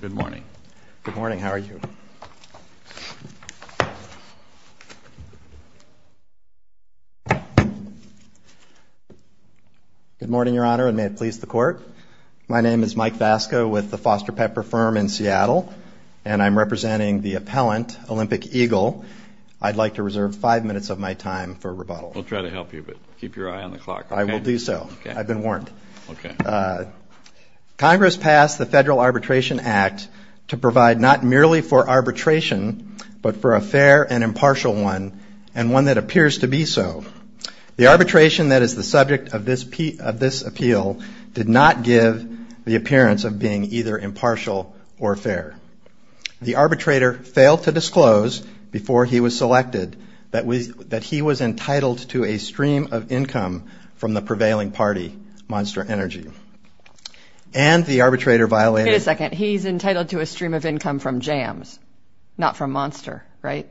Good morning. Good morning. How are you? Good morning, Your Honor, and may it please the Court. My name is Mike Vasco with the Foster Pepper Firm in Seattle, and I'm representing the appellant, Olympic Eagle. I'd like to reserve five minutes of my time for rebuttal. We'll try to help you, but keep your eye on the clock. I will do so. I've been warned. Okay. Congress passed the Federal Arbitration Act to provide not merely for arbitration, but for a fair and impartial one, and one that appears to be so. The arbitration that is the subject of this appeal did not give the appearance of being either impartial or fair. The arbitrator failed to disclose before he was selected that he was entitled to a stream of income from the prevailing party, Monster Energy. And the arbitrator violated Wait a second. He's entitled to a stream of income from Jams, not from Monster, right?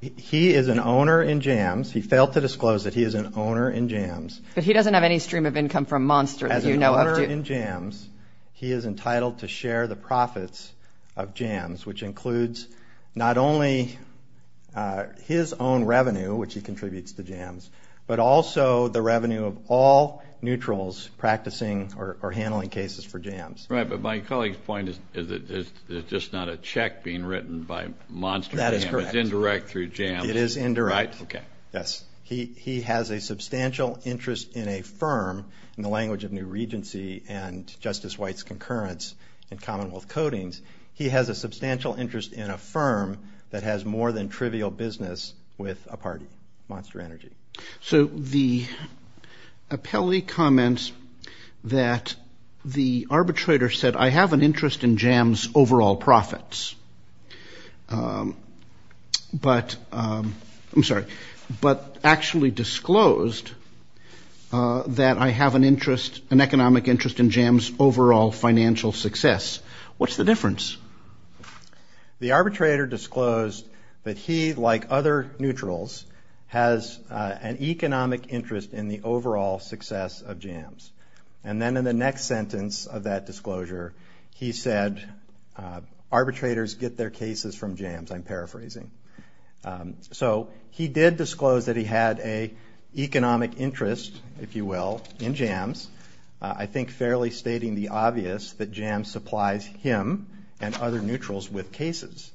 He is an owner in Jams. He failed to disclose that he is an owner in Jams. But he doesn't have any stream of income from Monster that you know of. As an owner in Jams, he is entitled to share the profits of Jams, which includes not only his own revenue, which he contributes to Jams, but also the revenue of all neutrals practicing or handling cases for Jams. Right. But my colleague's point is that it's just not a check being written by Monster. That is correct. It's indirect through Jams. It is indirect. Okay. Yes. He has a substantial interest in a firm, in the language of New Regency and Justice White's concurrence in Commonwealth Codings, he has a substantial interest in a firm that has more than trivial business with a party, Monster Energy. So the appellee comments that the arbitrator said, I have an interest in Jams' overall profits. But actually disclosed that I have an economic interest in Jams' overall financial success. What's the difference? The arbitrator disclosed that he, like other neutrals, has an economic interest in the overall success of Jams. And then in the next sentence of that disclosure, he said, arbitrators get their cases from Jams, I'm paraphrasing. So he did disclose that he had an economic interest, if you will, in Jams. I think fairly stating the obvious that Jams supplies him and other neutrals with cases.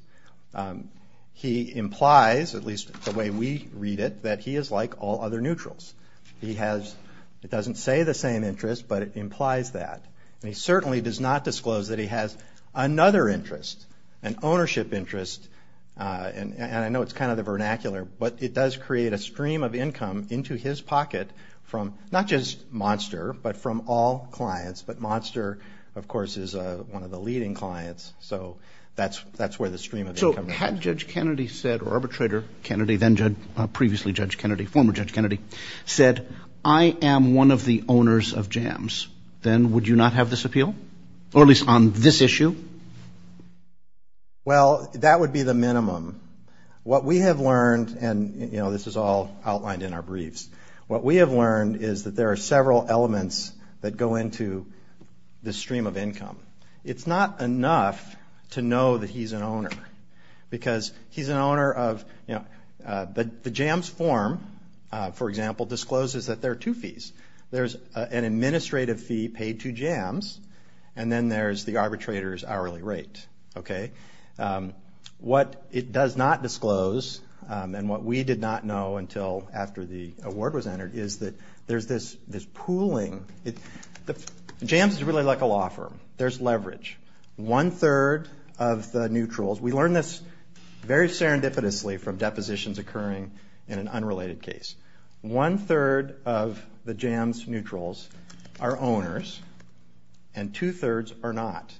He implies, at least the way we read it, that he is like all other neutrals. He has, it doesn't say the same interest, but it implies that. And he certainly does not disclose that he has another interest, an ownership interest, and I know it's kind of the vernacular, but it does create a stream of income into his pocket from not just Monster, but from all clients, but Monster, of course, is one of the leading clients, so that's where the stream of income comes from. So had Judge Kennedy said, or arbitrator Kennedy, then previously Judge Kennedy, former Judge Kennedy, said, I am one of the owners of Jams, then would you not have this appeal, or at least on this issue? Well, that would be the minimum. What we have learned, and, you know, this is all outlined in our briefs, what we have learned is that there are several elements that go into this stream of income. It's not enough to know that he's an owner, because he's an owner of, you know, the Jams form, for example, discloses that there are two fees. There's an administrative fee paid to Jams, and then there's the arbitrator's hourly rate. Okay? What it does not disclose, and what we did not know until after the award was entered, is that there's this pooling. Jams is really like a law firm. There's leverage. One-third of the neutrals, we learned this very serendipitously from depositions occurring in an unrelated case. One-third of the Jams neutrals are owners, and two-thirds are not.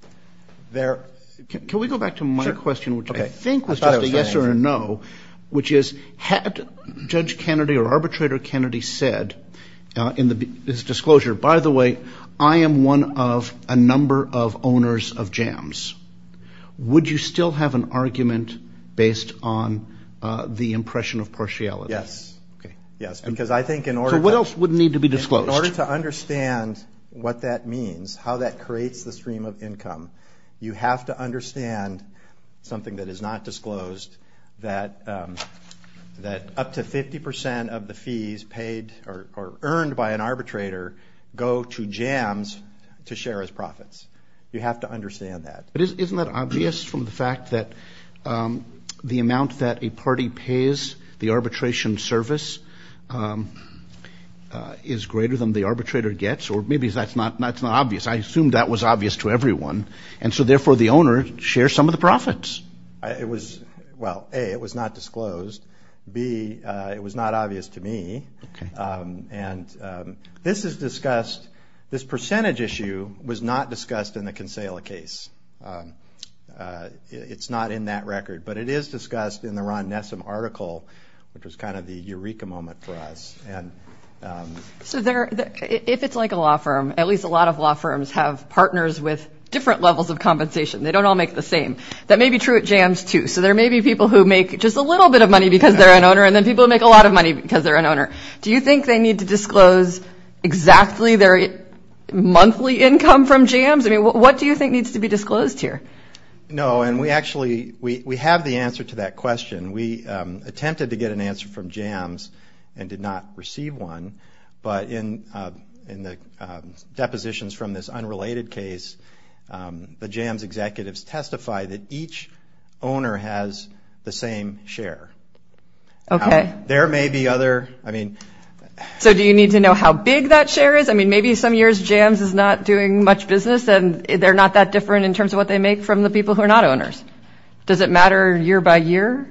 Can we go back to my question, which I think was just a yes or a no, which is had Judge Kennedy or Arbitrator Kennedy said in his disclosure, by the way, I am one of a number of owners of Jams, would you still have an argument based on the impression of partiality? Yes. Okay. Yes, because I think in order to – So what else would need to be disclosed? In order to understand what that means, how that creates the stream of income, you have to understand something that is not disclosed, that up to 50 percent of the fees paid or earned by an arbitrator go to Jams to share his profits. You have to understand that. But isn't that obvious from the fact that the amount that a party pays, the arbitration service is greater than the arbitrator gets? Or maybe that's not obvious. I assume that was obvious to everyone, and so therefore the owner shares some of the profits. It was – well, A, it was not disclosed. B, it was not obvious to me. Okay. And this is discussed – this percentage issue was not discussed in the Consala case. It's not in that record, but it is discussed in the Ron Nessam article, which was kind of the eureka moment for us. So there – if it's like a law firm, at least a lot of law firms have partners with different levels of compensation. They don't all make the same. That may be true at Jams, too. So there may be people who make just a little bit of money because they're an owner, and then people who make a lot of money because they're an owner. Do you think they need to disclose exactly their monthly income from Jams? I mean, what do you think needs to be disclosed here? No, and we actually – we have the answer to that question. We attempted to get an answer from Jams and did not receive one. But in the depositions from this unrelated case, the Jams executives testify that each owner has the same share. Okay. There may be other – I mean – So do you need to know how big that share is? I mean, maybe some years Jams is not doing much business, and they're not that different in terms of what they make from the people who are not owners. Does it matter year by year?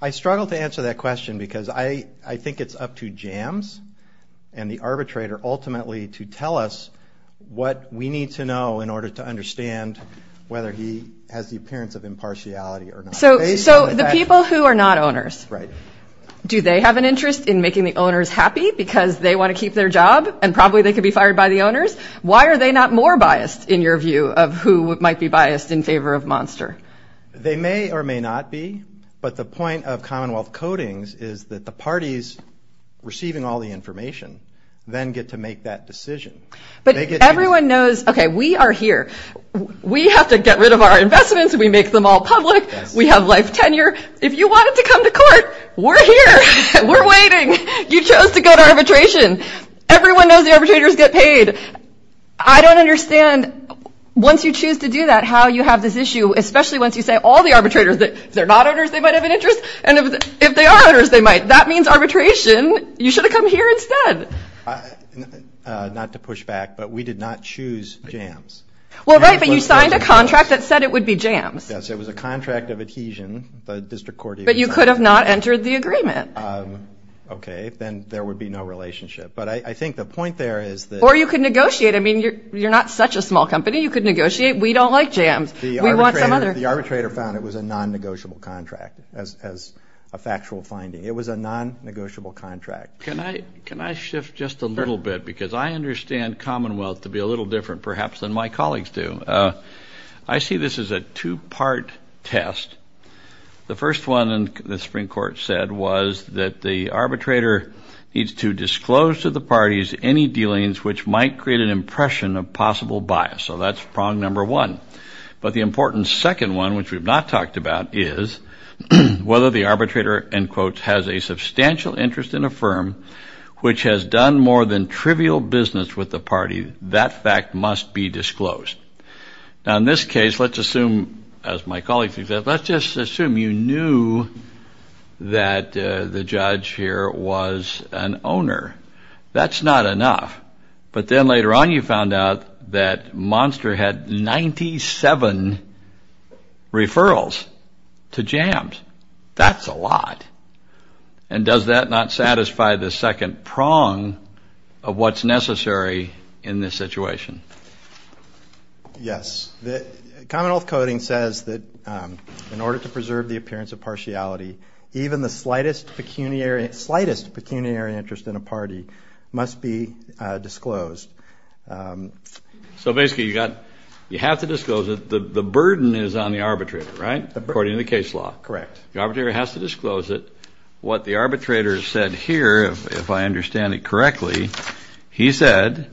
I struggle to answer that question because I think it's up to Jams and the arbitrator ultimately to tell us what we need to know in order to understand whether he has the appearance of impartiality or not. So the people who are not owners. Right. Do they have an interest in making the owners happy because they want to keep their job and probably they could be fired by the owners? Why are they not more biased in your view of who might be biased in favor of Monster? They may or may not be. But the point of Commonwealth Codings is that the parties receiving all the information then get to make that decision. But everyone knows, okay, we are here. We have to get rid of our investments. We make them all public. We have life tenure. If you wanted to come to court, we're here. We're waiting. You chose to go to arbitration. Everyone knows the arbitrators get paid. I don't understand once you choose to do that how you have this issue, especially once you say all the arbitrators, that if they're not owners they might have an interest, and if they are owners they might. That means arbitration, you should have come here instead. Not to push back, but we did not choose Jams. Well, right, but you signed a contract that said it would be Jams. Yes, it was a contract of adhesion. But you could have not entered the agreement. Okay, then there would be no relationship. But I think the point there is that you could negotiate. I mean, you're not such a small company. You could negotiate. We don't like Jams. We want some other. The arbitrator found it was a non-negotiable contract as a factual finding. It was a non-negotiable contract. Can I shift just a little bit? Because I understand Commonwealth to be a little different perhaps than my colleagues do. I see this as a two-part test. The first one, the Supreme Court said, was that the arbitrator needs to disclose to the parties any dealings which might create an impression of possible bias. So that's prong number one. But the important second one, which we've not talked about, is whether the arbitrator, end quote, has a substantial interest in a firm which has done more than trivial business with the party. That fact must be disclosed. Now, in this case, let's assume, as my colleagues do, let's just assume you knew that the judge here was an owner. That's not enough. But then later on you found out that Monster had 97 referrals to Jams. That's a lot. And does that not satisfy the second prong of what's necessary in this situation? Yes. Commonwealth Coding says that in order to preserve the appearance of partiality, even the slightest pecuniary interest in a party must be disclosed. So basically you have to disclose it. The burden is on the arbitrator, right, according to the case law? Correct. The arbitrator has to disclose it. What the arbitrator said here, if I understand it correctly, he said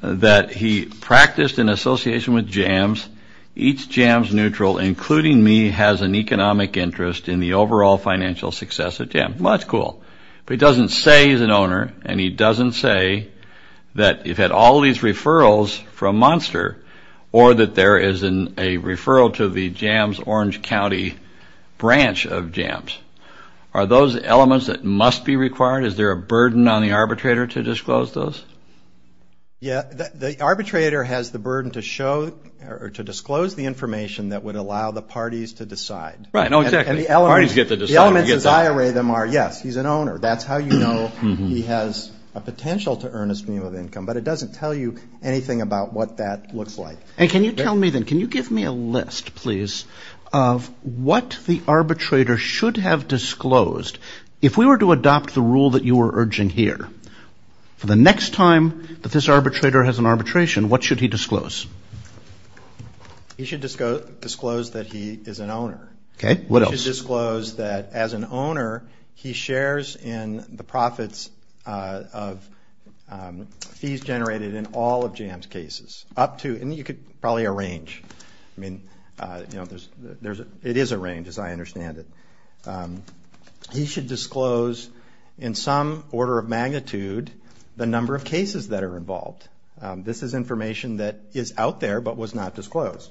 that he practiced an association with Jams. Each Jams neutral, including me, has an economic interest in the overall financial success of Jams. Well, that's cool. But he doesn't say he's an owner, and he doesn't say that you've had all these referrals from Monster or that there is a referral to the Jams Orange County branch of Jams. Are those elements that must be required? Is there a burden on the arbitrator to disclose those? Yeah, the arbitrator has the burden to show or to disclose the information that would allow the parties to decide. Right. No, exactly. Parties get to decide. The elements as I array them are, yes, he's an owner. That's how you know he has a potential to earn a stream of income. But it doesn't tell you anything about what that looks like. And can you tell me then, can you give me a list, please, of what the arbitrator should have disclosed? If we were to adopt the rule that you were urging here, for the next time that this arbitrator has an arbitration, what should he disclose? He should disclose that he is an owner. Okay. What else? He should disclose that, as an owner, he shares in the profits of fees generated in all of Jams' cases, up to, and you could probably arrange. I mean, it is a range, as I understand it. He should disclose, in some order of magnitude, the number of cases that are involved. This is information that is out there but was not disclosed.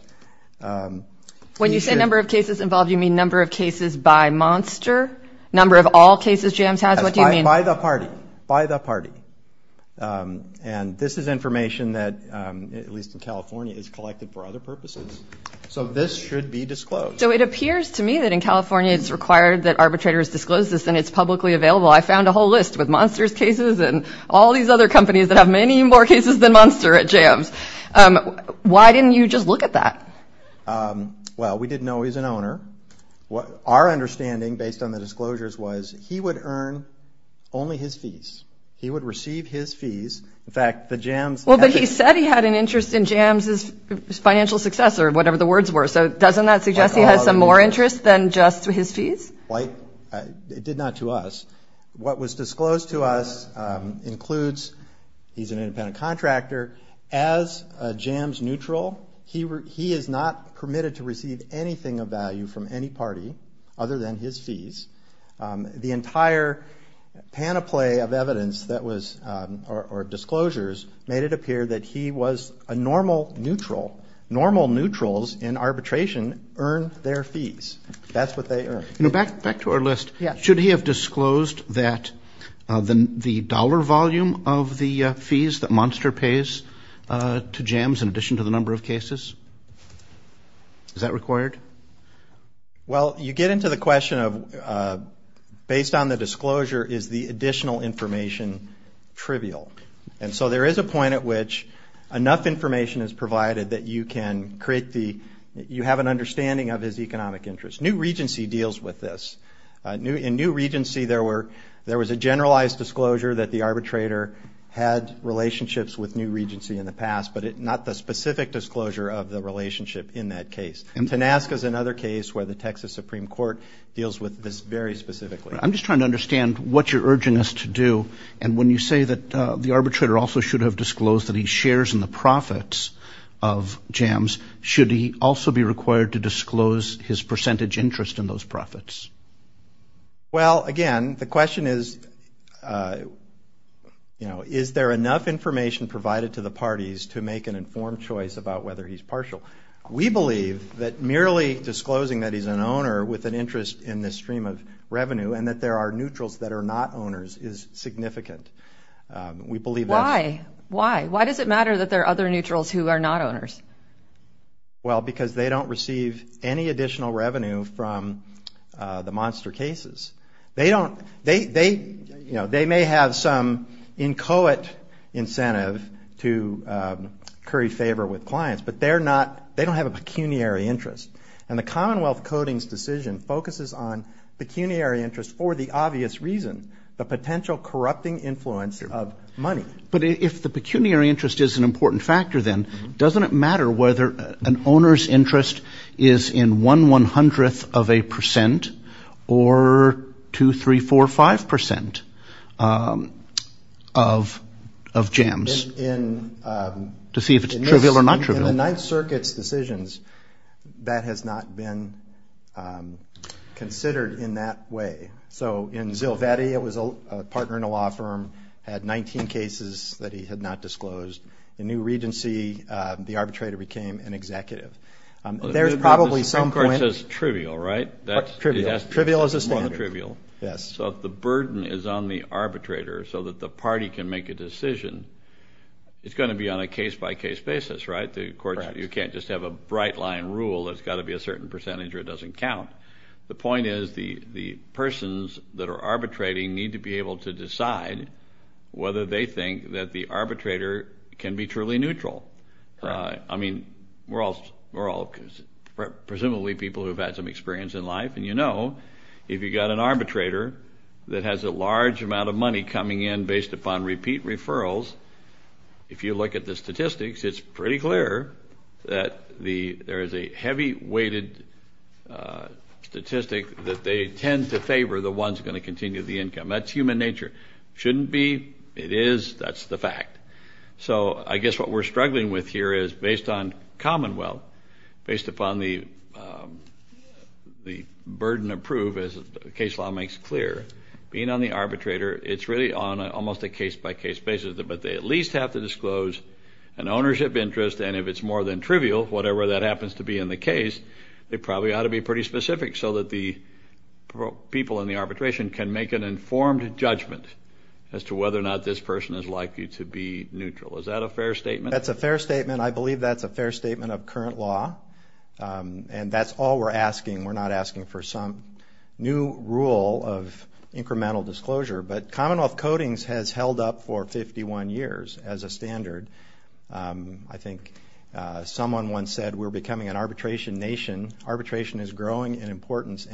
When you say number of cases involved, you mean number of cases by Monster? Number of all cases Jams has? What do you mean? By the party. By the party. And this is information that, at least in California, is collected for other purposes. So this should be disclosed. So it appears to me that in California it's required that arbitrators disclose this and it's publicly available. I found a whole list with Monster's cases and all these other companies that have many more cases than Monster at Jams. Why didn't you just look at that? Well, we didn't know he was an owner. Our understanding, based on the disclosures, was he would earn only his fees. He would receive his fees. In fact, the Jams – Well, but he said he had an interest in Jams' financial success or whatever the words were. So doesn't that suggest he has some more interest than just his fees? It did not to us. What was disclosed to us includes he's an independent contractor, as a Jams neutral. He is not permitted to receive anything of value from any party other than his fees. The entire panoply of evidence that was – or disclosures – made it appear that he was a normal neutral. Normal neutrals in arbitration earn their fees. That's what they earn. Back to our list. Yes. Could he have disclosed the dollar volume of the fees that Monster pays to Jams in addition to the number of cases? Is that required? Well, you get into the question of, based on the disclosure, is the additional information trivial? And so there is a point at which enough information is provided that you can create the – you have an understanding of his economic interest. New Regency deals with this. In New Regency, there was a generalized disclosure that the arbitrator had relationships with New Regency in the past, but not the specific disclosure of the relationship in that case. And TANASCA is another case where the Texas Supreme Court deals with this very specifically. I'm just trying to understand what you're urging us to do. And when you say that the arbitrator also should have disclosed that he shares in the profits of Jams, should he also be required to disclose his percentage interest in those profits? Well, again, the question is, you know, is there enough information provided to the parties to make an informed choice about whether he's partial? We believe that merely disclosing that he's an owner with an interest in this stream of revenue and that there are neutrals that are not owners is significant. Why? Why? Why does it matter that there are other neutrals who are not owners? Well, because they don't receive any additional revenue from the monster cases. They don't – they, you know, they may have some inchoate incentive to curry favor with clients, but they're not – they don't have a pecuniary interest. And the Commonwealth Codings decision focuses on pecuniary interest for the obvious reason, the potential corrupting influence of money. But if the pecuniary interest is an important factor then, doesn't it matter whether an owner's interest is in one one-hundredth of a percent or two, three, four, five percent of Jams? In – To see if it's trivial or not trivial. In the Ninth Circuit's decisions, that has not been considered in that way. So in Zilvedi, it was a partner in a law firm, had 19 cases that he had not disclosed. In New Regency, the arbitrator became an executive. There's probably some point – Well, the Supreme Court says trivial, right? Trivial is a standard. More than trivial. Yes. So if the burden is on the arbitrator so that the party can make a decision, it's going to be on a case-by-case basis, right? Correct. You can't just have a bright-line rule that's got to be a certain percentage or it doesn't count. The point is the persons that are arbitrating need to be able to decide whether they think that the arbitrator can be truly neutral. Right. I mean, we're all presumably people who have had some experience in life, and you know if you've got an arbitrator that has a large amount of money coming in based upon repeat referrals, if you look at the statistics, it's pretty clear that there is a heavy-weighted statistic that they tend to favor the ones that are going to continue the income. That's human nature. It shouldn't be. It is. That's the fact. So I guess what we're struggling with here is based on Commonwealth, based upon the burden of proof, as the case law makes clear, being on the arbitrator, it's really on almost a case-by-case basis, but they at least have to disclose an ownership interest, and if it's more than trivial, whatever that happens to be in the case, they probably ought to be pretty specific so that the people in the arbitration can make an informed judgment as to whether or not this person is likely to be neutral. Is that a fair statement? That's a fair statement. I believe that's a fair statement of current law, and that's all we're asking. We're not asking for some new rule of incremental disclosure, but Commonwealth Codings has held up for 51 years as a standard. I think someone once said we're becoming an arbitration nation. Arbitration is growing in importance.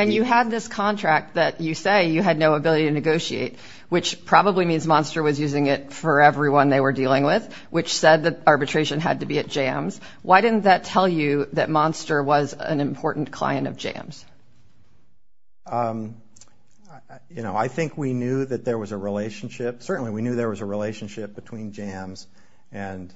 And you had this contract that you say you had no ability to negotiate, which probably means Monster was using it for everyone they were dealing with, which said that arbitration had to be at jams. Why didn't that tell you that Monster was an important client of jams? You know, I think we knew that there was a relationship. Certainly we knew there was a relationship between jams and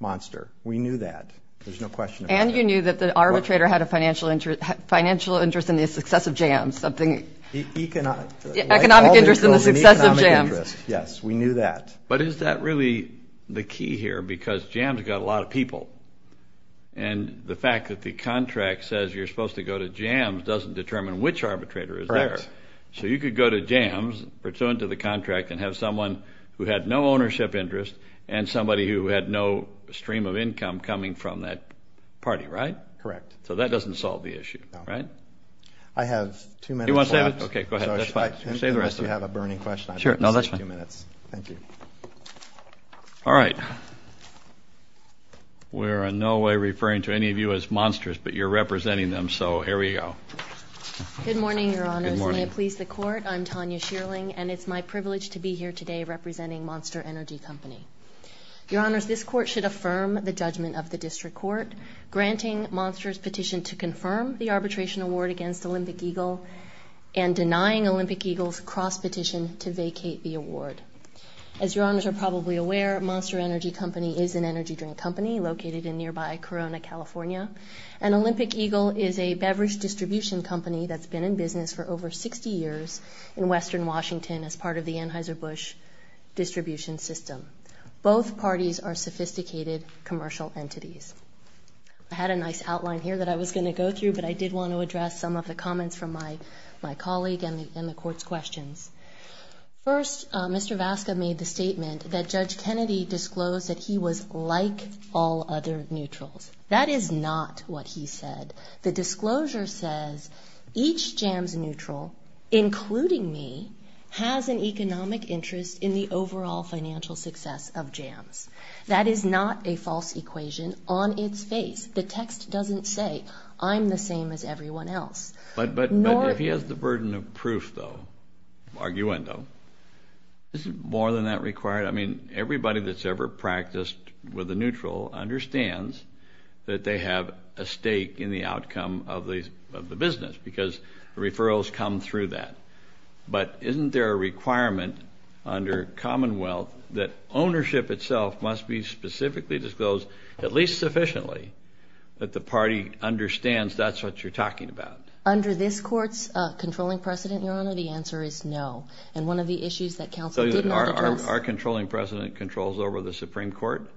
Monster. We knew that. There's no question about that. And you knew that the arbitrator had a financial interest in the success of jams. Economic interest in the success of jams. Yes, we knew that. But is that really the key here? Because jams have got a lot of people, and the fact that the contract says you're supposed to go to jams doesn't determine which arbitrator is there. Correct. So you could go to jams, return to the contract, and have someone who had no ownership interest and somebody who had no stream of income coming from that party, right? Correct. So that doesn't solve the issue, right? I have two minutes left. You want to save it? Okay, go ahead. That's fine. Save the rest of it. We have a burning question. Sure. No, that's fine. Thank you. All right. We're in no way referring to any of you as Monsters, but you're representing them, so here we go. Good morning, Your Honors. Good morning. May it please the Court, I'm Tanya Shierling, and it's my privilege to be here today representing Monster Energy Company. Your Honors, this Court should affirm the judgment of the District Court granting Monster's petition to confirm the arbitration award against Olympic Eagle and denying Olympic Eagle's cross-petition to vacate the award. As Your Honors are probably aware, Monster Energy Company is an energy drink company located in nearby Corona, California, and Olympic Eagle is a beverage distribution company that's been in business for over 60 years in western Washington as part of the Anheuser-Busch distribution system. Both parties are sophisticated commercial entities. I had a nice outline here that I was going to go through, but I did want to address some of the comments from my colleague and the Court's questions. First, Mr. Vasca made the statement that Judge Kennedy disclosed that he was like all other neutrals. That is not what he said. The disclosure says each Jams neutral, including me, has an economic interest in the overall financial success of Jams. That is not a false equation on its face. The text doesn't say I'm the same as everyone else. But if he has the burden of proof, though, of arguendo, is it more than that required? I mean, everybody that's ever practiced with a neutral understands that they have a stake in the outcome of the business because referrals come through that. But isn't there a requirement under Commonwealth that ownership itself must be specifically disclosed, at least sufficiently, that the party understands that's what you're talking about? Under this Court's controlling precedent, Your Honor, the answer is no. And one of the issues that counsel did not address... So our controlling precedent controls over the Supreme Court?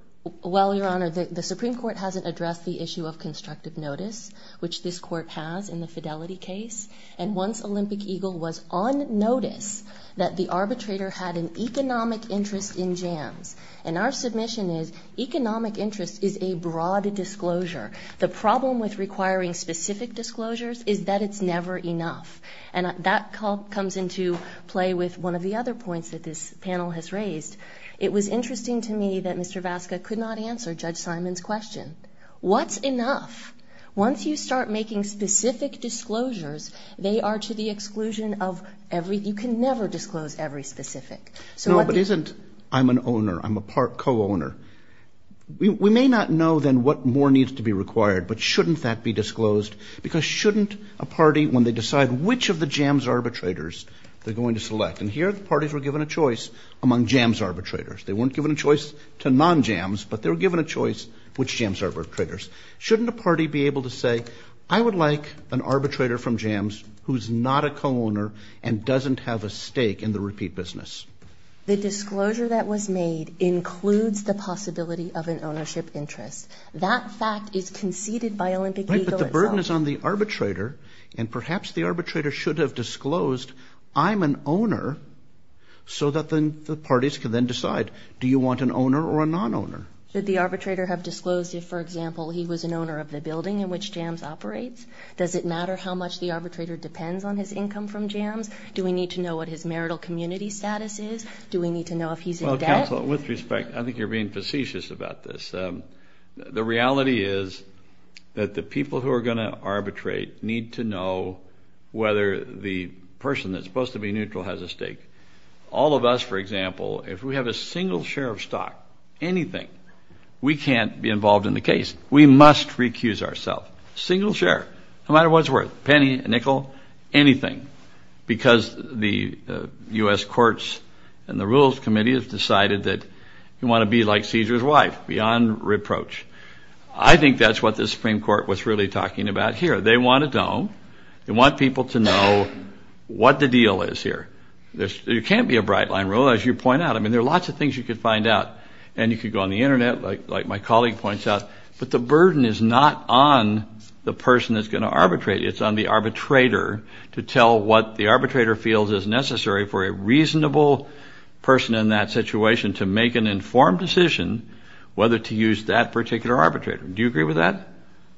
Well, Your Honor, the Supreme Court hasn't addressed the issue of constructive notice, which this Court has in the Fidelity case. And once Olympic Eagle was on notice, that the arbitrator had an economic interest in Jams. And our submission is economic interest is a broad disclosure. The problem with requiring specific disclosures is that it's never enough. And that comes into play with one of the other points that this panel has raised. It was interesting to me that Mr. Vasca could not answer Judge Simon's question. What's enough? Once you start making specific disclosures, they are to the exclusion of every... You can never disclose every specific. No, but isn't, I'm an owner, I'm a co-owner. We may not know then what more needs to be required, but shouldn't that be disclosed? Because shouldn't a party, when they decide which of the Jams arbitrators they're going to select, and here the parties were given a choice among Jams arbitrators. They weren't given a choice to non-Jams, but they were given a choice which Jams arbitrators. Shouldn't a party be able to say, I would like an arbitrator from Jams who's not a co-owner and doesn't have a stake in the repeat business? The disclosure that was made includes the possibility of an ownership interest. That fact is conceded by Olympic legal itself. Right, but the burden is on the arbitrator, and perhaps the arbitrator should have disclosed, I'm an owner, so that then the parties can then decide, do you want an owner or a non-owner? Should the arbitrator have disclosed if, for example, he was an owner of the building in which Jams operates? Does it matter how much the arbitrator depends on his income from Jams? Do we need to know what his marital community status is? Do we need to know if he's in debt? Well, counsel, with respect, I think you're being facetious about this. The reality is that the people who are going to arbitrate need to know whether the person that's supposed to be neutral has a stake. All of us, for example, if we have a single share of stock, anything, we can't be involved in the case. We must recuse ourselves. A single share, no matter what it's worth, a penny, a nickel, anything, because the U.S. Courts and the Rules Committee have decided that you want to be like Caesar's wife, beyond reproach. I think that's what the Supreme Court was really talking about here. They want to know, they want people to know what the deal is here. There can't be a bright line rule, as you point out. I mean, there are lots of things you could find out, and you could go on the Internet, like my colleague points out, but the burden is not on the person that's going to arbitrate. It's on the arbitrator to tell what the arbitrator feels is necessary for a reasonable person in that situation to make an informed decision whether to use that particular arbitrator. Do you agree with that?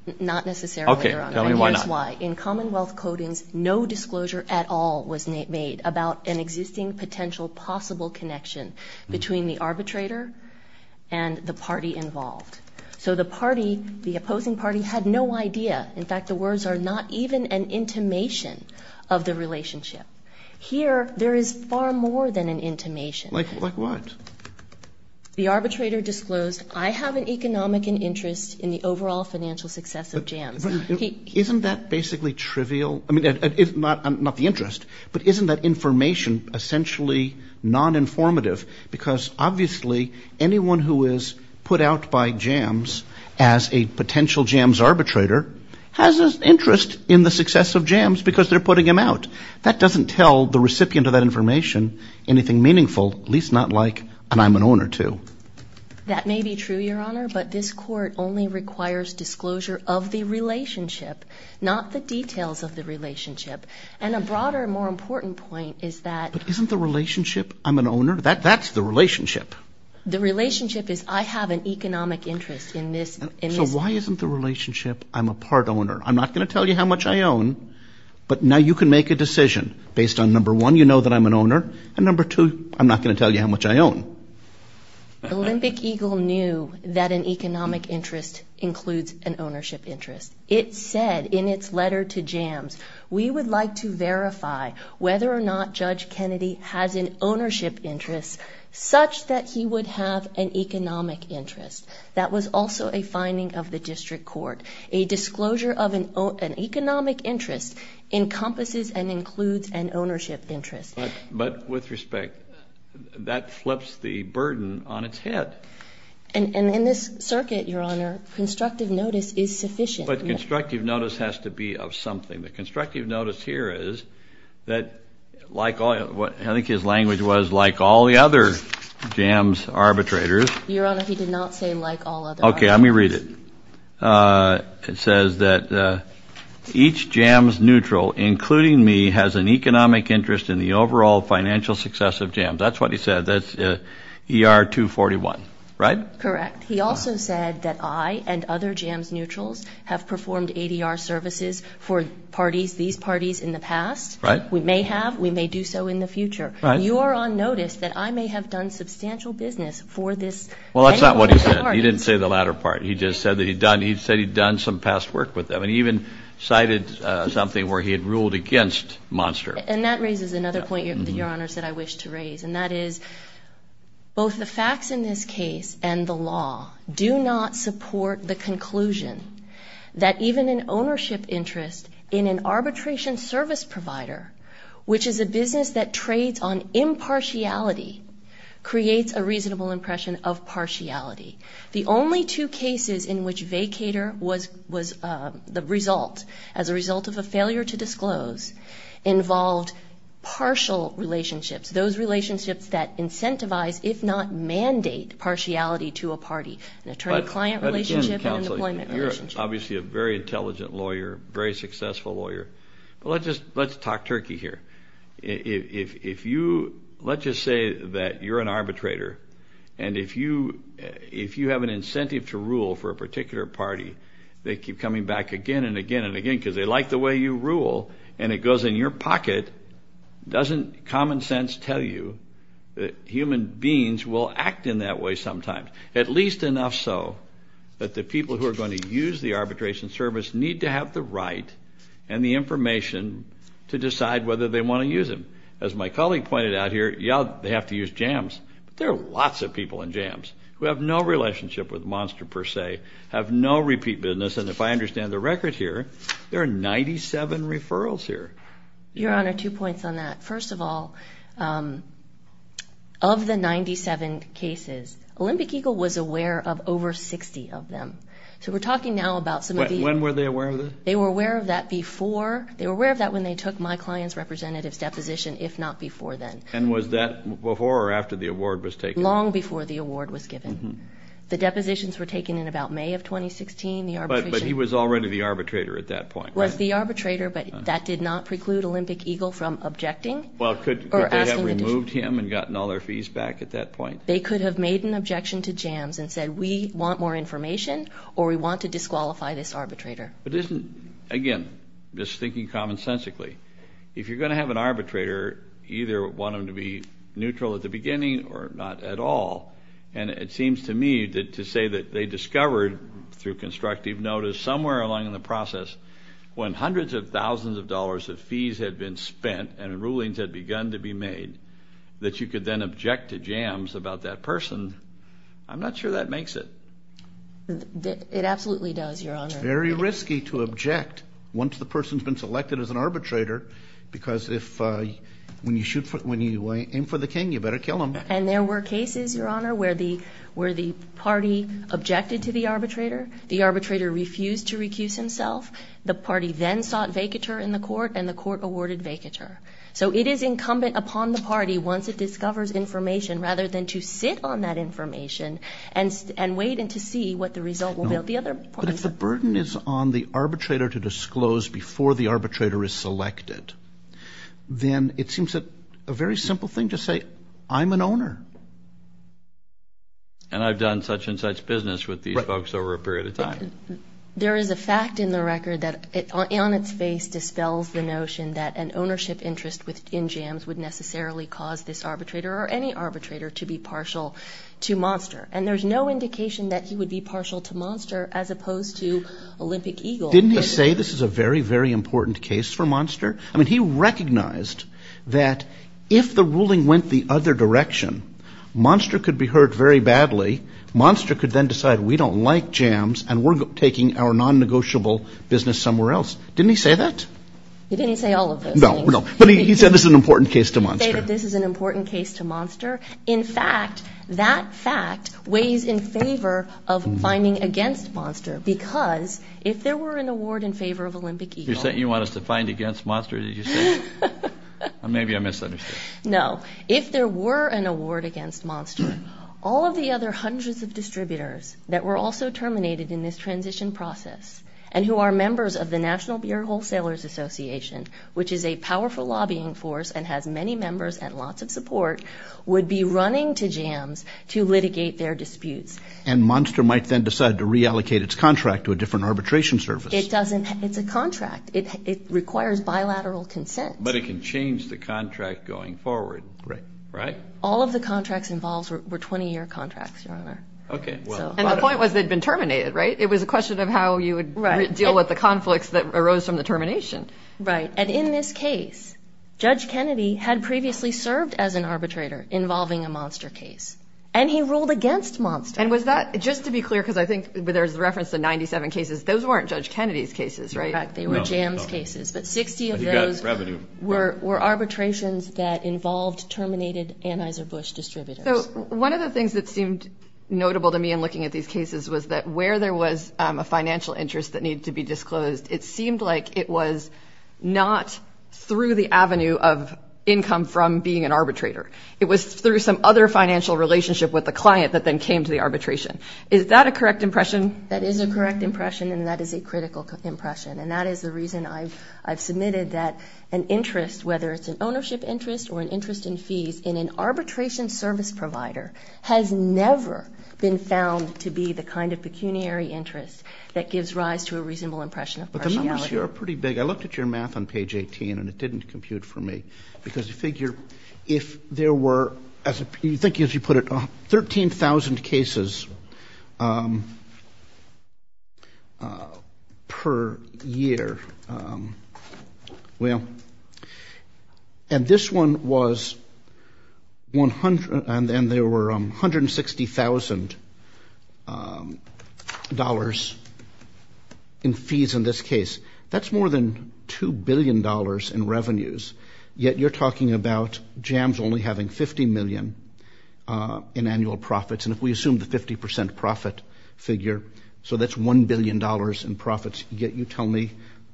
Okay, tell me why not. And here's why. In Commonwealth codings, no disclosure at all was made about an existing potential possible connection between the arbitrator and the party involved. So the party, the opposing party, had no idea. In fact, the words are not even an intimation of the relationship. Here, there is far more than an intimation. Like what? The arbitrator disclosed, I have an economic interest in the overall financial success of Jams. Isn't that basically trivial? I mean, not the interest, but isn't that information essentially non-informative? Because obviously anyone who is put out by Jams as a potential Jams arbitrator has an interest in the success of Jams because they're putting him out. That doesn't tell the recipient of that information anything meaningful, at least not like an I'm an owner, too. That may be true, Your Honor, but this court only requires disclosure of the relationship, not the details of the relationship. And a broader, more important point is that the relationship is I have an economic interest in this. So why isn't the relationship I'm a part owner? I'm not going to tell you how much I own, but now you can make a decision based on, number one, you know that I'm an owner, and number two, I'm not going to tell you how much I own. Olympic Eagle knew that an economic interest includes an ownership interest. It said in its letter to Jams, we would like to verify whether or not Judge Kennedy has an ownership interest such that he would have an economic interest. That was also a finding of the district court. A disclosure of an economic interest encompasses and includes an ownership interest. But with respect, that flips the burden on its head. And in this circuit, Your Honor, constructive notice is sufficient. But constructive notice has to be of something. The constructive notice here is that like I think his language was like all the other Jams arbitrators. Your Honor, he did not say like all other arbitrators. Okay, let me read it. It says that each Jams neutral, including me, has an economic interest in the overall financial success of Jams. That's what he said. That's ER 241, right? Correct. He also said that I and other Jams neutrals have performed ADR services for parties, these parties in the past. Right. We may have. We may do so in the future. Right. You are on notice that I may have done substantial business for this. Well, that's not what he said. He didn't say the latter part. He just said that he'd done some past work with them. And he even cited something where he had ruled against Monster. And that raises another point, Your Honor, that I wish to raise, and that is both the facts in this case and the law do not support the conclusion that even an ownership interest in an arbitration service provider, which is a business that trades on impartiality, creates a reasonable impression of partiality. The only two cases in which vacator was the result, as a result of a failure to disclose, involved partial relationships, those relationships that incentivize, if not mandate, partiality to a party, an attorney-client relationship and an employment relationship. But, again, counsel, you're obviously a very intelligent lawyer, very successful lawyer, but let's talk turkey here. If you, let's just say that you're an arbitrator, and if you have an incentive to rule for a particular party, they keep coming back again and again and again because they like the way you rule, and it goes in your pocket, doesn't common sense tell you that human beings will act in that way sometimes? At least enough so that the people who are going to use the arbitration service need to have the right and the information to decide whether they want to use them. As my colleague pointed out here, yeah, they have to use jams, but there are lots of people in jams who have no relationship with Monster per se, have no repeat business, and if I understand the record here, there are 97 referrals here. Your Honor, two points on that. First of all, of the 97 cases, Olympic Eagle was aware of over 60 of them. So we're talking now about some of these. When were they aware of this? They were aware of that before. They were aware of that when they took my client's representative's deposition, if not before then. And was that before or after the award was taken? Long before the award was given. The depositions were taken in about May of 2016. But he was already the arbitrator at that point, right? Was the arbitrator, but that did not preclude Olympic Eagle from objecting. Well, could they have removed him and gotten all their fees back at that point? They could have made an objection to jams and said, we want more information or we want to disqualify this arbitrator. But isn't, again, just thinking commonsensically, if you're going to have an arbitrator, either want them to be neutral at the beginning or not at all. And it seems to me to say that they discovered through constructive notice somewhere along in the process, when hundreds of thousands of dollars of fees had been spent and rulings had begun to be made, that you could then object to jams about that person. I'm not sure that makes it. It absolutely does, Your Honor. It's very risky to object once the person's been selected as an arbitrator because when you aim for the king, you better kill him. And there were cases, Your Honor, where the party objected to the arbitrator, the arbitrator refused to recuse himself, the party then sought vacatur in the court, and the court awarded vacatur. So it is incumbent upon the party, once it discovers information, rather than to sit on that information and wait and to see what the result will be. But if the burden is on the arbitrator to disclose before the arbitrator is selected, then it seems a very simple thing to say, I'm an owner. And I've done such and such business with these folks over a period of time. There is a fact in the record that on its face dispels the notion that an ownership interest in jams would necessarily cause this arbitrator or any arbitrator to be partial to Monster. And there's no indication that he would be partial to Monster as opposed to Olympic Eagle. Didn't he say this is a very, very important case for Monster? I mean, he recognized that if the ruling went the other direction, Monster could be hurt very badly, Monster could then decide we don't like jams and we're taking our non-negotiable business somewhere else. Didn't he say that? He didn't say all of those things. No, but he said this is an important case to Monster. He said this is an important case to Monster. In fact, that fact weighs in favor of finding against Monster because if there were an award in favor of Olympic Eagle... You're saying you want us to find against Monster, did you say? Maybe I misunderstood. No. If there were an award against Monster, all of the other hundreds of distributors that were also terminated in this transition process and who are members of the National Beer Wholesalers Association, which is a powerful lobbying force and has many members and lots of support, would be running to jams to litigate their disputes. And Monster might then decide to reallocate its contract to a different arbitration service. It doesn't. It's a contract. It requires bilateral consent. But it can change the contract going forward, right? All of the contracts involved were 20-year contracts, Your Honor. Okay. And the point was they'd been terminated, right? It was a question of how you would deal with the conflicts that arose from the termination. Right. And in this case, Judge Kennedy had previously served as an arbitrator involving a Monster case, and he ruled against Monster. And was that, just to be clear, because I think there's reference to 97 cases, those weren't Judge Kennedy's cases, right? They were jams cases, but 60 of those were arbitrations that involved terminated Anheuser-Busch distributors. So one of the things that seemed notable to me in looking at these cases was that where there was a financial interest that needed to be disclosed, it seemed like it was not through the avenue of income from being an arbitrator. It was through some other financial relationship with the client that then came to the arbitration. Is that a correct impression? That is a correct impression, and that is a critical impression. And that is the reason I've submitted that an interest, whether it's an ownership interest or an interest in fees, in an arbitration service provider, has never been found to be the kind of pecuniary interest that gives rise to a reasonable impression of partiality. But the numbers here are pretty big. I looked at your math on page 18, and it didn't compute for me, because I figure if there were, you think as you put it, 13,000 cases per year. Well, and this one was, and there were $160,000 in fees in this case. That's more than $2 billion in revenues, yet you're talking about jams only having $50 million in annual profits. And if we assume the 50% profit figure, so that's $1 billion in profits, yet you tell me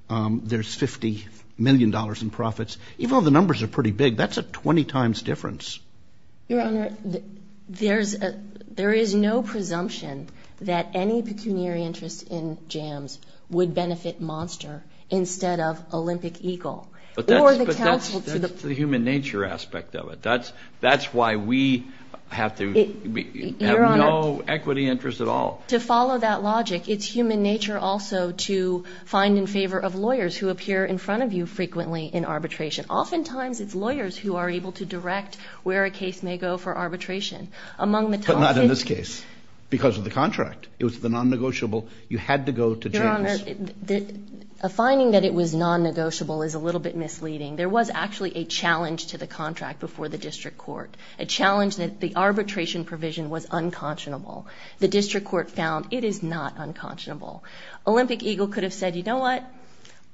there's $50 million in profits. Even though the numbers are pretty big, that's a 20 times difference. Your Honor, there is no presumption that any pecuniary interest in jams would benefit Monster instead of Olympic Eagle. But that's the human nature aspect of it. That's why we have no equity interest at all. To follow that logic, it's human nature also to find in favor of lawyers who appear in front of you frequently in arbitration. Oftentimes it's lawyers who are able to direct where a case may go for arbitration. But not in this case, because of the contract. It was the non-negotiable. You had to go to jams. A finding that it was non-negotiable is a little bit misleading. There was actually a challenge to the contract before the district court, a challenge that the arbitration provision was unconscionable. The district court found it is not unconscionable. Olympic Eagle could have said, you know what,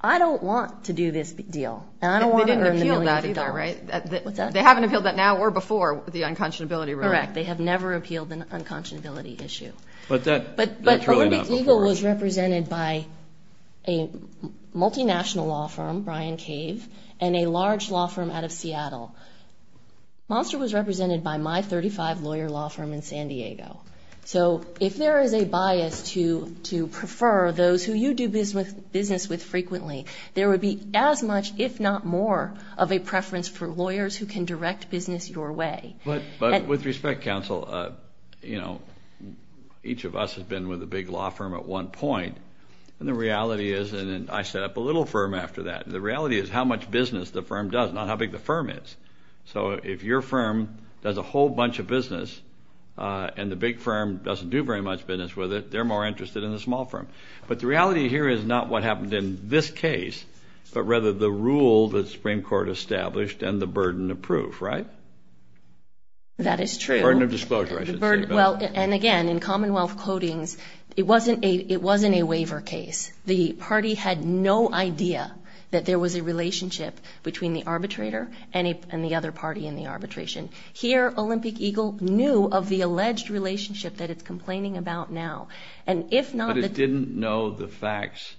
I don't want to do this deal. And I don't want to earn the millions of dollars. They haven't appealed that now or before, the unconscionability ruling. Correct. They have never appealed the unconscionability issue. But Olympic Eagle was represented by a multinational law firm, Brian Cave, and a large law firm out of Seattle. Monster was represented by my 35-lawyer law firm in San Diego. So if there is a bias to prefer those who you do business with frequently, there would be as much, if not more, of a preference for lawyers who can direct business your way. But with respect, counsel, you know, each of us has been with a big law firm at one point, and the reality is, and I set up a little firm after that, the reality is how much business the firm does, not how big the firm is. So if your firm does a whole bunch of business and the big firm doesn't do very much business with it, they're more interested in the small firm. But the reality here is not what happened in this case, but rather the rule that the Supreme Court established and the burden of proof, right? That is true. Burden of disclosure, I should say. Well, and again, in Commonwealth codings, it wasn't a waiver case. The party had no idea that there was a relationship between the arbitrator and the other party in the arbitration. Here, Olympic Eagle knew of the alleged relationship that it's complaining about now. But it didn't know the facts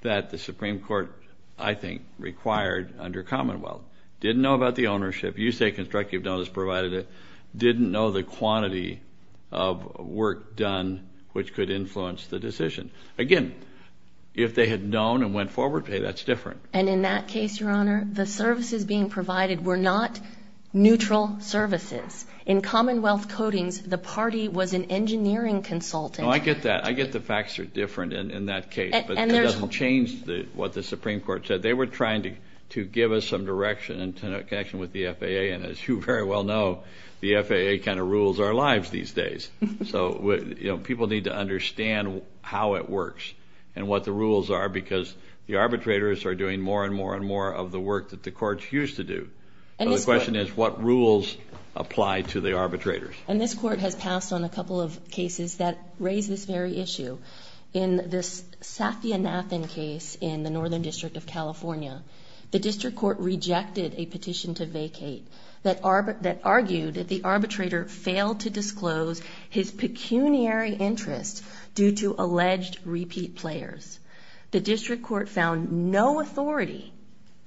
that the Supreme Court, I think, required under Commonwealth. Didn't know about the ownership. You say constructive notice provided it. Didn't know the quantity of work done which could influence the decision. Again, if they had known and went forward, hey, that's different. And in that case, Your Honor, the services being provided were not neutral services. In Commonwealth codings, the party was an engineering consultant. I get that. I get the facts are different in that case, but it doesn't change what the Supreme Court said. They were trying to give us some direction in connection with the FAA, and as you very well know, the FAA kind of rules our lives these days. So people need to understand how it works and what the rules are because the arbitrators are doing more and more and more of the work that the courts used to do. So the question is what rules apply to the arbitrators. And this court has passed on a couple of cases that raise this very issue. In this Safia Nathan case in the Northern District of California, the district court rejected a petition to vacate that argued that the arbitrator failed to disclose his pecuniary interest due to alleged repeat players. The district court found no authority,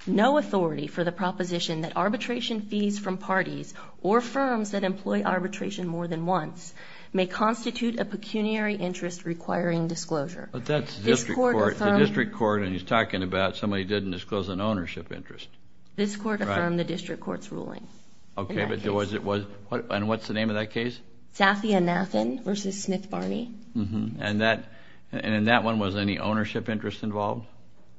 no authority for the proposition that arbitration fees from parties or firms that employ arbitration more than once may constitute a pecuniary interest requiring disclosure. But that's the district court, and he's talking about somebody didn't disclose an ownership interest. This court affirmed the district court's ruling. Okay, but what's the name of that case? Safia Nathan v. Smith Barney. And in that one, was any ownership interest involved?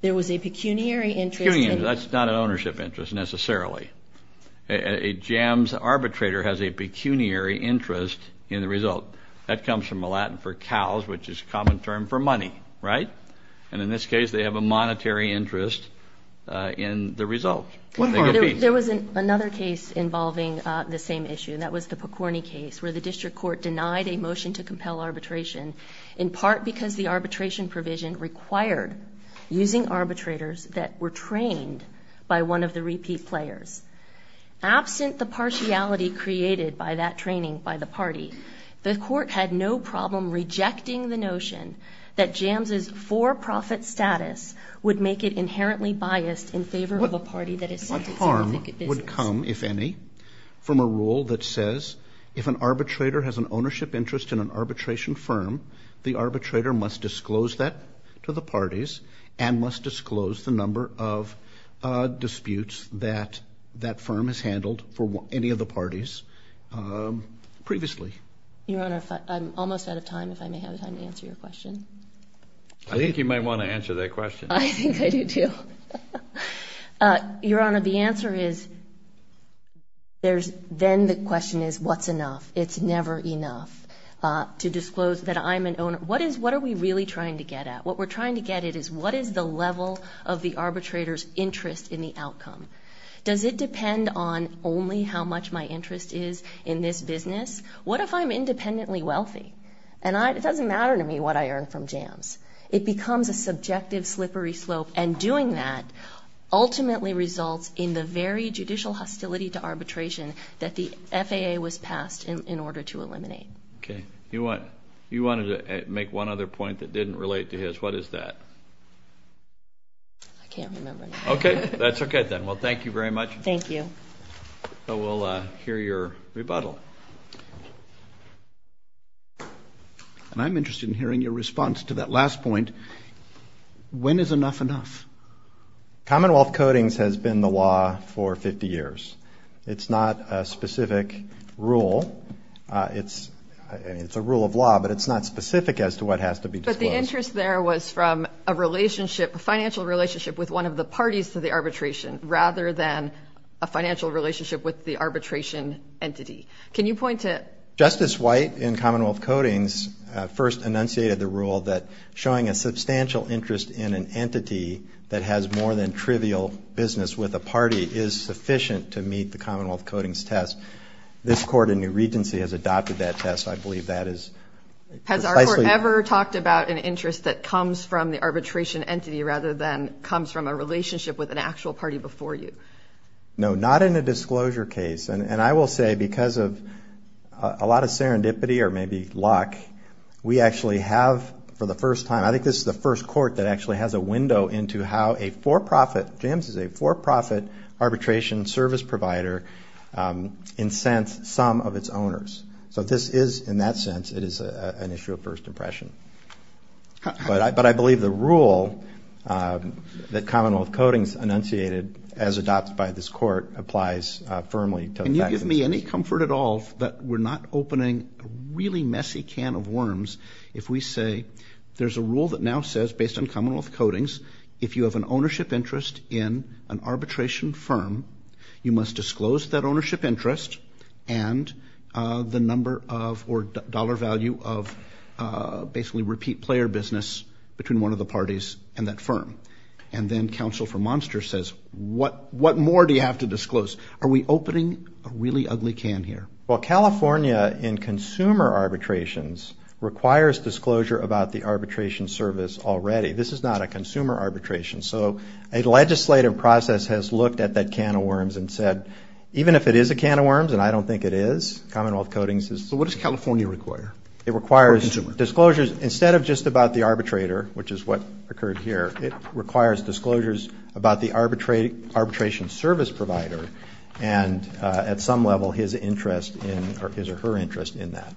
There was a pecuniary interest. That's not an ownership interest necessarily. A jams arbitrator has a pecuniary interest in the result. That comes from the Latin for cows, which is a common term for money, right? And in this case, they have a monetary interest in the result. There was another case involving the same issue, and that was the Picorni case, where the district court denied a motion to compel arbitration in part because the arbitration provision required using arbitrators that were trained by one of the repeat players. Absent the partiality created by that training by the party, the court had no problem rejecting the notion that jams' for-profit status would make it inherently biased in favor of a party that is seeking significant business. What harm would come, if any, from a rule that says if an arbitrator has an ownership interest in an arbitration firm, the arbitrator must disclose that to the parties and must disclose the number of disputes that that firm has handled for any of the parties previously? Your Honor, I'm almost out of time, if I may have the time to answer your question. I think you might want to answer that question. I think I do, too. Your Honor, the answer is there's then the question is what's enough? It's never enough to disclose that I'm an owner. What are we really trying to get at? What we're trying to get at is what is the level of the arbitrator's interest in the outcome? Does it depend on only how much my interest is in this business? What if I'm independently wealthy? It doesn't matter to me what I earn from jams. It becomes a subjective slippery slope, and doing that ultimately results in the very judicial hostility to arbitration that the FAA was passed in order to eliminate. Okay. You wanted to make one other point that didn't relate to his. What is that? I can't remember. Okay. That's okay, then. Well, thank you very much. Thank you. We'll hear your rebuttal. I'm interested in hearing your response to that last point. When is enough enough? Commonwealth Codings has been the law for 50 years. It's not a specific rule. It's a rule of law, but it's not specific as to what has to be disclosed. But the interest there was from a relationship, a financial relationship with one of the parties to the arbitration, rather than a financial relationship with the arbitration entity. Can you point to it? Justice White in Commonwealth Codings first enunciated the rule that showing a substantial interest in an entity that has more than trivial business with a party is sufficient to meet the Commonwealth Codings test. This court in New Regency has adopted that test. I believe that is precisely. Has our court ever talked about an interest that comes from the arbitration entity rather than comes from a relationship with an actual party before you? No, not in a disclosure case. And I will say because of a lot of serendipity or maybe luck, we actually have, for the first time, I think this is the first court that actually has a window into how a for-profit, James is a for-profit arbitration service provider incensed some of its owners. So this is, in that sense, it is an issue of first impression. But I believe the rule that Commonwealth Codings enunciated as adopted by this court applies firmly to effectiveness. Can you give me any comfort at all that we're not opening a really messy can of worms if we say there's a rule that now says, based on Commonwealth Codings, if you have an ownership interest in an arbitration firm, you must disclose that ownership interest and the number of or dollar value of basically repeat player business between one of the parties and that firm. And then counsel for Monster says, what more do you have to disclose? Are we opening a really ugly can here? Well, California in consumer arbitrations requires disclosure about the arbitration service already. This is not a consumer arbitration. So a legislative process has looked at that can of worms and said, even if it is a can of worms, and I don't think it is, Commonwealth Codings is. So what does California require? It requires disclosures instead of just about the arbitrator, which is what occurred here, it requires disclosures about the arbitration service provider and at some level his interest in or his or her interest in that.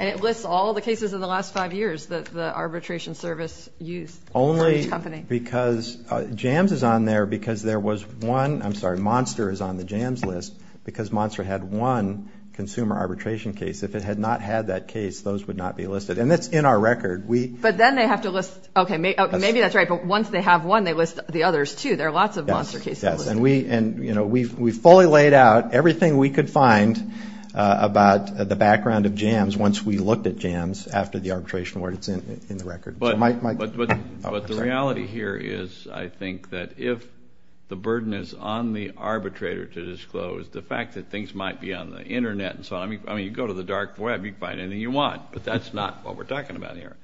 And it lists all the cases in the last five years that the arbitration service used for each company. Only because Jams is on there because there was one, I'm sorry, Monster is on the Jams list because Monster had one consumer arbitration case. If it had not had that case, those would not be listed. And that's in our record. But then they have to list, okay, maybe that's right, but once they have one, they list the others too. There are lots of Monster cases. Yes, and we fully laid out everything we could find about the background of Jams once we looked at Jams after the arbitration where it's in the record. But the reality here is, I think, that if the burden is on the arbitrator to disclose, the fact that things might be on the Internet and so on, I mean, you go to the dark web, you can find anything you want, but that's not what we're talking about here.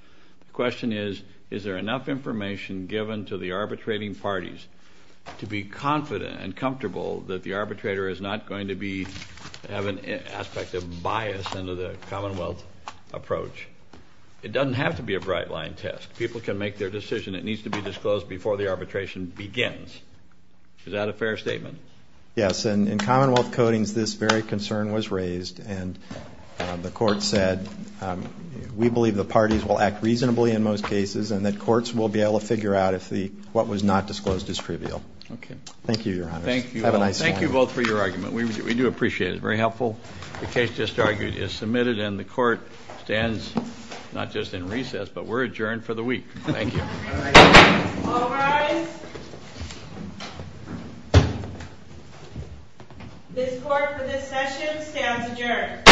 The question is, is there enough information given to the arbitrating parties to be confident and comfortable that the arbitrator is not going to have an aspect of bias into the Commonwealth approach? It doesn't have to be a bright-line test. People can make their decision. It needs to be disclosed before the arbitration begins. Is that a fair statement? Yes, and in Commonwealth codings, this very concern was raised, and the court said we believe the parties will act reasonably in most cases and that courts will be able to figure out if what was not disclosed is trivial. Thank you, Your Honor. Thank you. Have a nice morning. Thank you both for your argument. We do appreciate it. It's very helpful. The case just argued is submitted, and the court stands not just in recess, but we're adjourned for the week. Thank you. All rise. This court for this session stands adjourned.